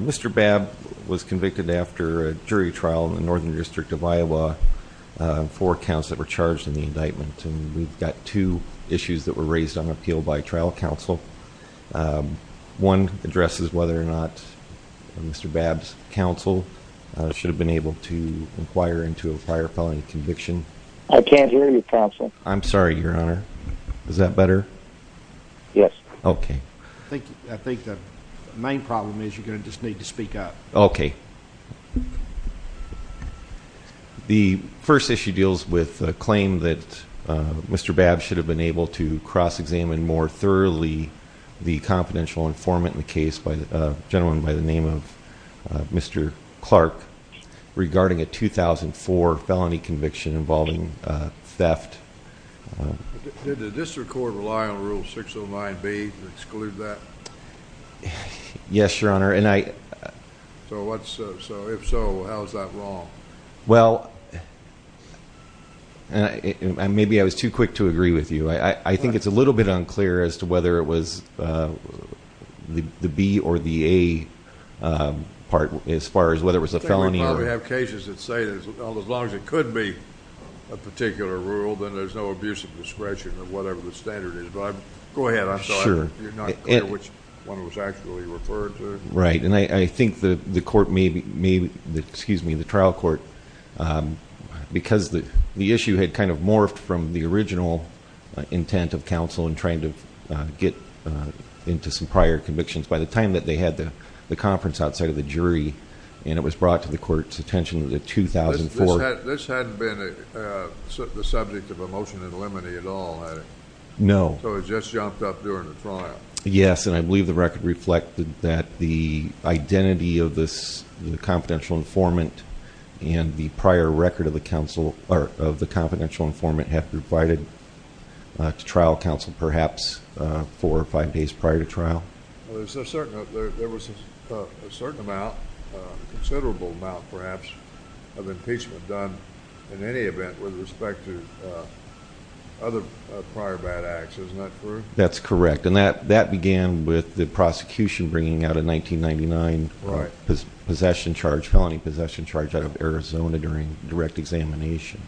Mr. Babb was convicted after a jury trial in the Northern District of Iowa for counts that were raised on appeal by trial counsel. One addresses whether or not Mr. Babb's counsel should have been able to inquire into a prior felony conviction. I can't hear you, counsel. I'm sorry, Your Honor. Is that better? Yes. Okay. I think the main problem is you're going to just need to speak up. Okay. The first issue deals with a claim that Mr. Babb should have been able to cross-examine more thoroughly the confidential informant in the case, a gentleman by the name of Mr. Clark, regarding a 2004 felony conviction involving theft. Did the district court rely on Rule 609B to exclude that? Yes, Your Honor. So if so, how is that wrong? Well, maybe I was too quick to agree with you. I think it's a little bit unclear as to whether it was the B or the A part as far as whether it was a felony. I think we probably have cases that say as long as it could be a particular rule, then there's no abuse of discretion or whatever the standard is. Go ahead. Sure. I'm just not clear which one it was actually referred to. Right. And I think the trial court, because the issue had kind of morphed from the original intent of counsel in trying to get into some prior convictions by the time that they had the conference outside of the jury, and it was brought to the court's attention in 2004. This hadn't been the subject of a motion in limine at all, had it? No. So it just jumped up during the trial. Yes, and I believe the record reflected that the identity of this confidential informant and the prior record of the confidential informant have been provided to trial counsel perhaps four or five days prior to trial. There was a certain amount, a considerable amount perhaps, of impeachment done in any event with respect to other prior bad acts. Isn't that true? That's correct. And that began with the prosecution bringing out a 1999 felony possession charge out of Arizona during direct examination.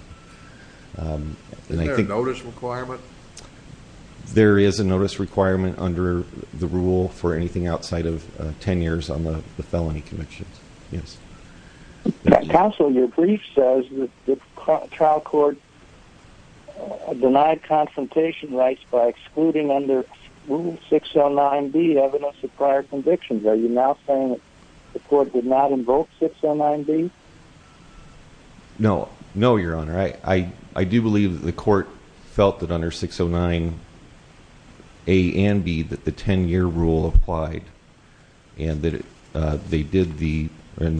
Is there a notice requirement? There is a notice requirement under the rule for anything outside of 10 years on the felony convictions. Yes. Counsel, your brief says the trial court denied confrontation rights by excluding under Rule 609B evidence of prior convictions. Are you now saying the court did not invoke 609B? No. No, Your Honor. I do believe that the court felt that under 609A and B that the 10-year rule applied and the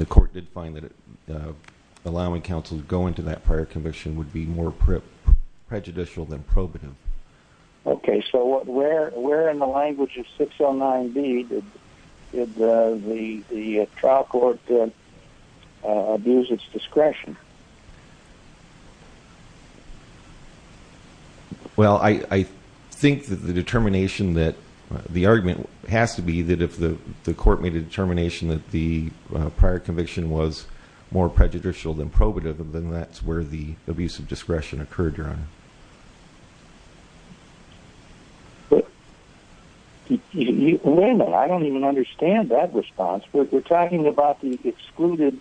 court did find that allowing counsel to go into that prior conviction would be more prejudicial than probative. Okay. So where in the language of 609B did the trial court abuse its discretion? Well, I think that the determination that the argument has to be that if the court made a determination that the prior conviction was more prejudicial than probative, then that's where the abuse of discretion occurred, Your Honor. Wait a minute. I don't even understand that response. We're talking about the excluded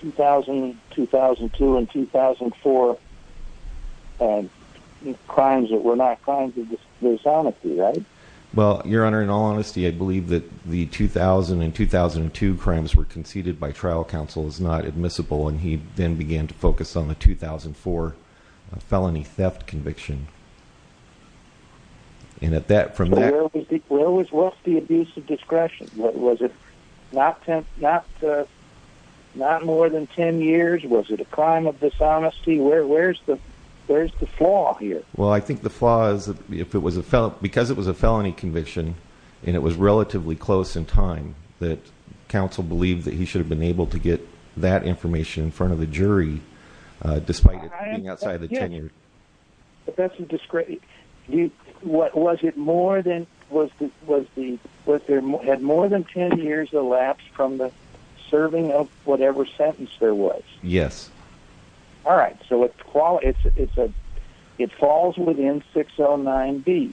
2000, 2002, and 2004 crimes that were not crimes of dishonesty, right? Well, Your Honor, in all honesty, I believe that the 2000 and 2002 crimes were conceded by trial counsel as not admissible, and he then began to focus on the 2004 felony theft conviction. And from that... Where was the abuse of discretion? Was it not more than 10 years? Was it a crime of dishonesty? Where's the flaw here? Well, I think the flaw is that because it was a felony conviction and it was relatively close in time, that counsel believed that he should have been able to get that information in front of the jury despite it being outside of the 10-year. But that's a discretion. Was it more than 10 years elapsed from the serving of whatever sentence there was? Yes. All right, so it falls within 609B.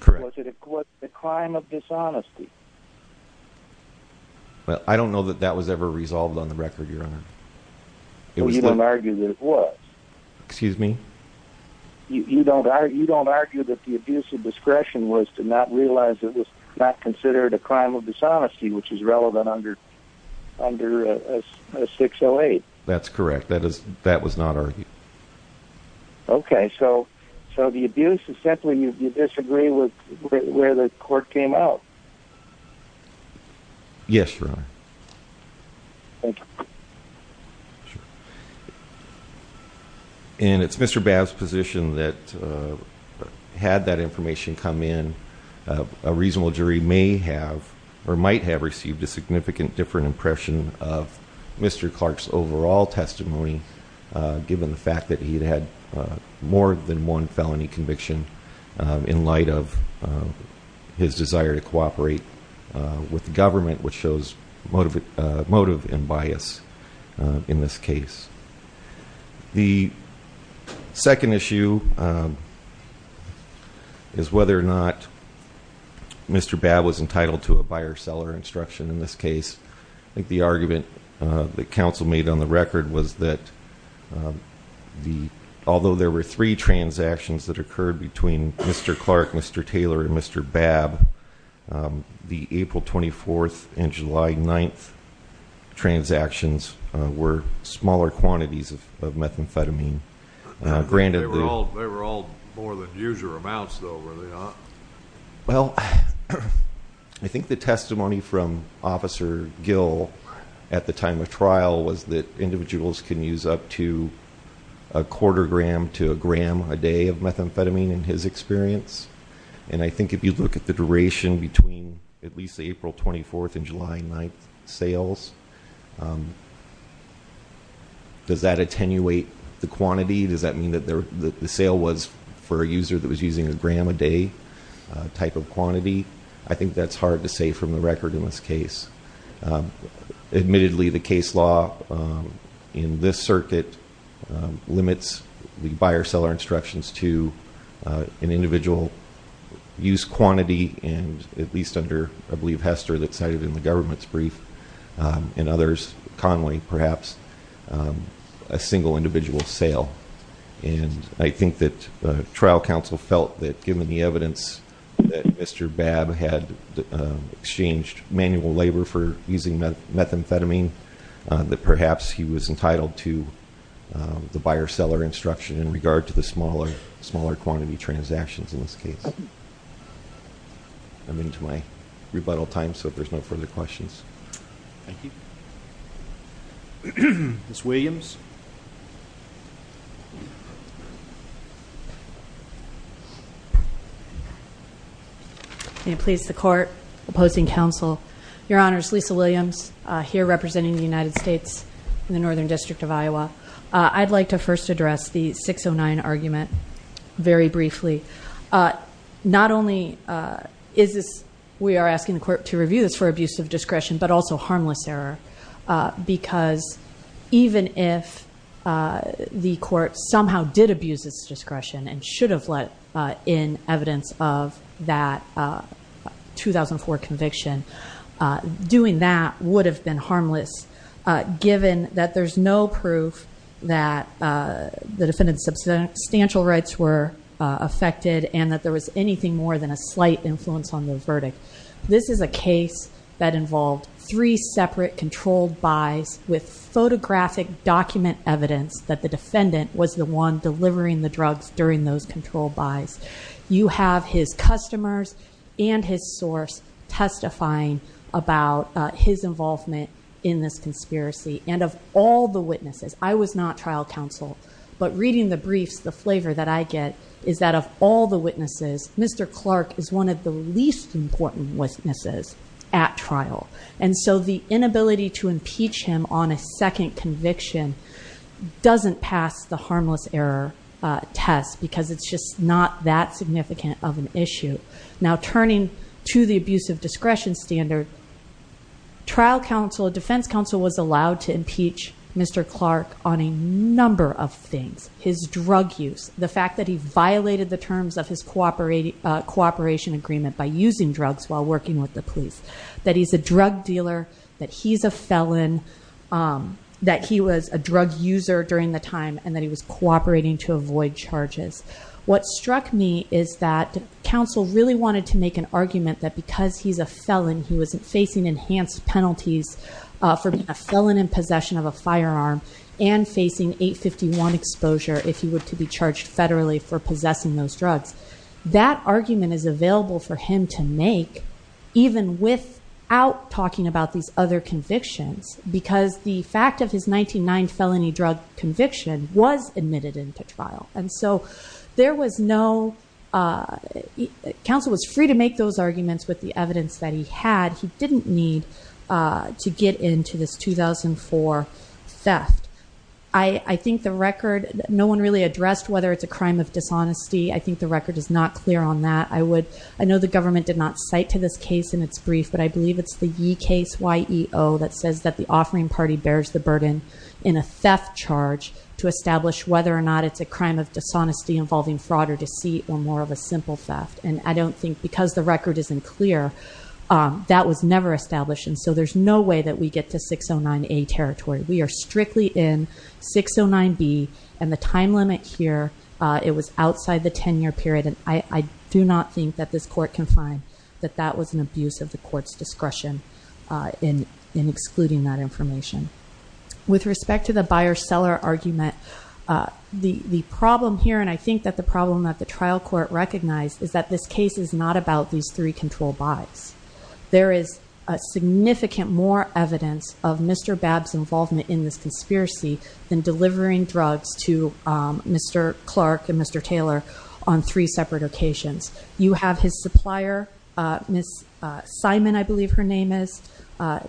Correct. Was it a crime of dishonesty? Well, I don't know that that was ever resolved on the record, Your Honor. You don't argue that it was? Excuse me? You don't argue that the abuse of discretion was to not realize it was not considered a crime of dishonesty, which is relevant under 608? That's correct. That was not argued. Okay, so the abuse is simply you disagree with where the court came out. Yes, Your Honor. Thank you. Sure. And it's Mr. Babb's position that had that information come in, a reasonable jury may have or might have received a significant different impression of Mr. Clark's overall testimony, given the fact that he had more than one felony conviction in light of his desire to cooperate with the government, which shows motive and bias in this case. The second issue is whether or not Mr. Babb was entitled to a buyer-seller instruction in this case. I think the argument that counsel made on the record was that although there were three transactions that occurred between Mr. Clark, Mr. Taylor, and Mr. Babb, the April 24th and July 9th transactions were smaller quantities of methamphetamine. They were all more than usual amounts, though, were they not? Well, I think the testimony from Officer Gill at the time of trial was that individuals can use up to a quarter gram to a gram a day of methamphetamine, in his experience. And I think if you look at the duration between at least the April 24th and July 9th sales, does that attenuate the quantity? Does that mean that the sale was for a user that was using a gram a day type of quantity? I think that's hard to say from the record in this case. Admittedly, the case law in this circuit limits the buyer-seller instructions to an individual use quantity, and at least under, I believe, Hester that cited in the government's brief and others, Conway perhaps, a single individual sale. And I think that the trial counsel felt that given the evidence that Mr. Babb had exchanged manual labor for using methamphetamine, that perhaps he was entitled to the buyer-seller instruction in regard to the smaller quantity transactions in this case. I'm into my rebuttal time, so if there's no further questions. Thank you. Ms. Williams. May it please the Court. Opposing counsel. Your Honors, Lisa Williams here representing the United States in the Northern District of Iowa. I'd like to first address the 609 argument very briefly. Not only is this, we are asking the Court to review this for abuse of discretion, but also harmless error, because even if the Court somehow did abuse its discretion and should have let in evidence of that 2004 conviction, doing that would have been harmless given that there's no proof that the defendant's substantial rights were affected and that there was anything more than a slight influence on the verdict. This is a case that involved three separate controlled buys with photographic document evidence that the defendant was the one delivering the drugs during those controlled buys. You have his customers and his source testifying about his involvement in this conspiracy. And of all the witnesses, I was not trial counsel, but reading the briefs, the flavor that I get is that of all the witnesses, Mr. Clark is one of the least important witnesses at trial. And so the inability to impeach him on a second conviction doesn't pass the harmless error test, because it's just not that significant of an issue. Now, turning to the abuse of discretion standard, trial counsel, defense counsel, was allowed to impeach Mr. Clark on a number of things. His drug use, the fact that he violated the terms of his cooperation agreement by using drugs while working with the police, that he's a drug dealer, that he's a felon, that he was a drug user during the time, and that he was cooperating to avoid charges. What struck me is that counsel really wanted to make an argument that because he's a felon, he was facing enhanced penalties for being a felon in possession of a firearm, and facing 851 exposure if he were to be charged federally for possessing those drugs. That argument is available for him to make, even without talking about these other convictions, because the fact of his 1909 felony drug conviction was admitted into trial. And so there was no, counsel was free to make those arguments with the evidence that he had. He didn't need to get into this 2004 theft. I think the record, no one really addressed whether it's a crime of dishonesty. I think the record is not clear on that. I know the government did not cite to this case in its brief, but I believe it's the Yee case, Y-E-O, that says that the offering party bears the burden in a theft charge to establish whether or not it's a crime of dishonesty involving fraud or deceit or more of a simple theft. And I don't think, because the record isn't clear, that was never established. And so there's no way that we get to 609A territory. We are strictly in 609B, and the time limit here, it was outside the 10-year period. And I do not think that this court can find that that was an abuse of the court's discretion in excluding that information. With respect to the buyer-seller argument, the problem here, and I think that the problem that the trial court recognized, is that this case is not about these three control buys. There is significant more evidence of Mr. Babb's involvement in this conspiracy than delivering drugs to Mr. Clark and Mr. Taylor on three separate occasions. You have his supplier, Miss Simon, I believe her name is,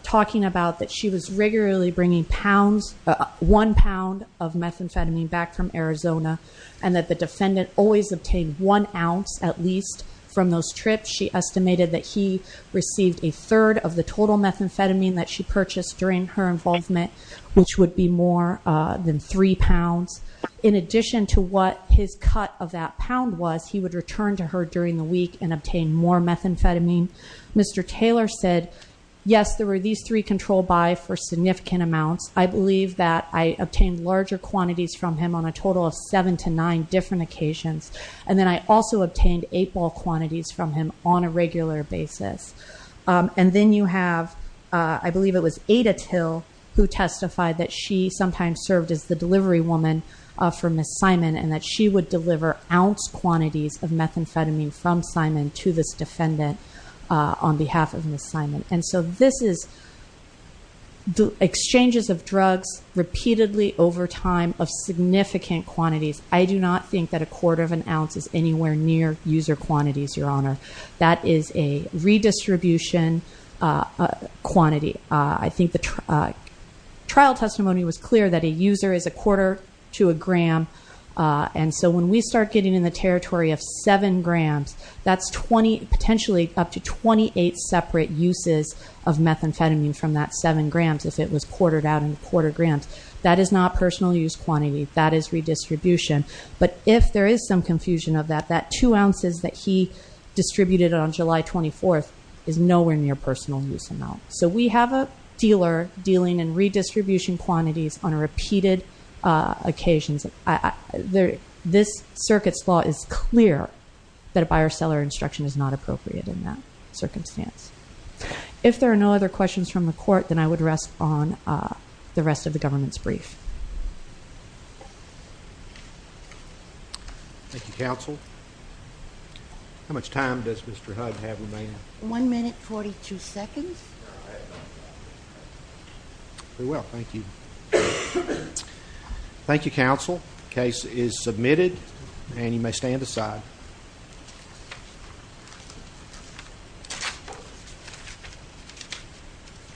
talking about that she was regularly bringing one pound of methamphetamine back from Arizona, and that the defendant always obtained one ounce at least from those trips. She estimated that he received a third of the total methamphetamine that she purchased during her involvement, which would be more than three pounds. In addition to what his cut of that pound was, he would return to her during the week and obtain more methamphetamine. Mr. Taylor said, yes, there were these three control buys for significant amounts. I believe that I obtained larger quantities from him on a total of seven to nine different occasions. And then I also obtained eight ball quantities from him on a regular basis. And then you have, I believe it was Ada Till who testified that she sometimes served as the delivery woman for Miss Simon, and that she would deliver ounce quantities of methamphetamine from Simon to this defendant on behalf of Miss Simon. And so this is exchanges of drugs repeatedly over time of significant quantities. I do not think that a quarter of an ounce is anywhere near user quantities, Your Honor. That is a redistribution quantity. I think the trial testimony was clear that a user is a quarter to a gram. And so when we start getting in the territory of seven grams, that's potentially up to 28 separate uses of methamphetamine from that seven grams if it was quartered out into quarter grams. That is not personal use quantity. That is redistribution. But if there is some confusion of that, that two ounces that he distributed on July 24th is nowhere near personal use amount. So we have a dealer dealing in redistribution quantities on repeated occasions. This circuit's law is clear that a buyer-seller instruction is not appropriate in that circumstance. If there are no other questions from the court, then I would rest on the rest of the government's brief. Thank you, counsel. How much time does Mr. Hudd have remaining? One minute, 42 seconds. Very well. Thank you. Thank you, counsel. Case is submitted, and you may stand aside.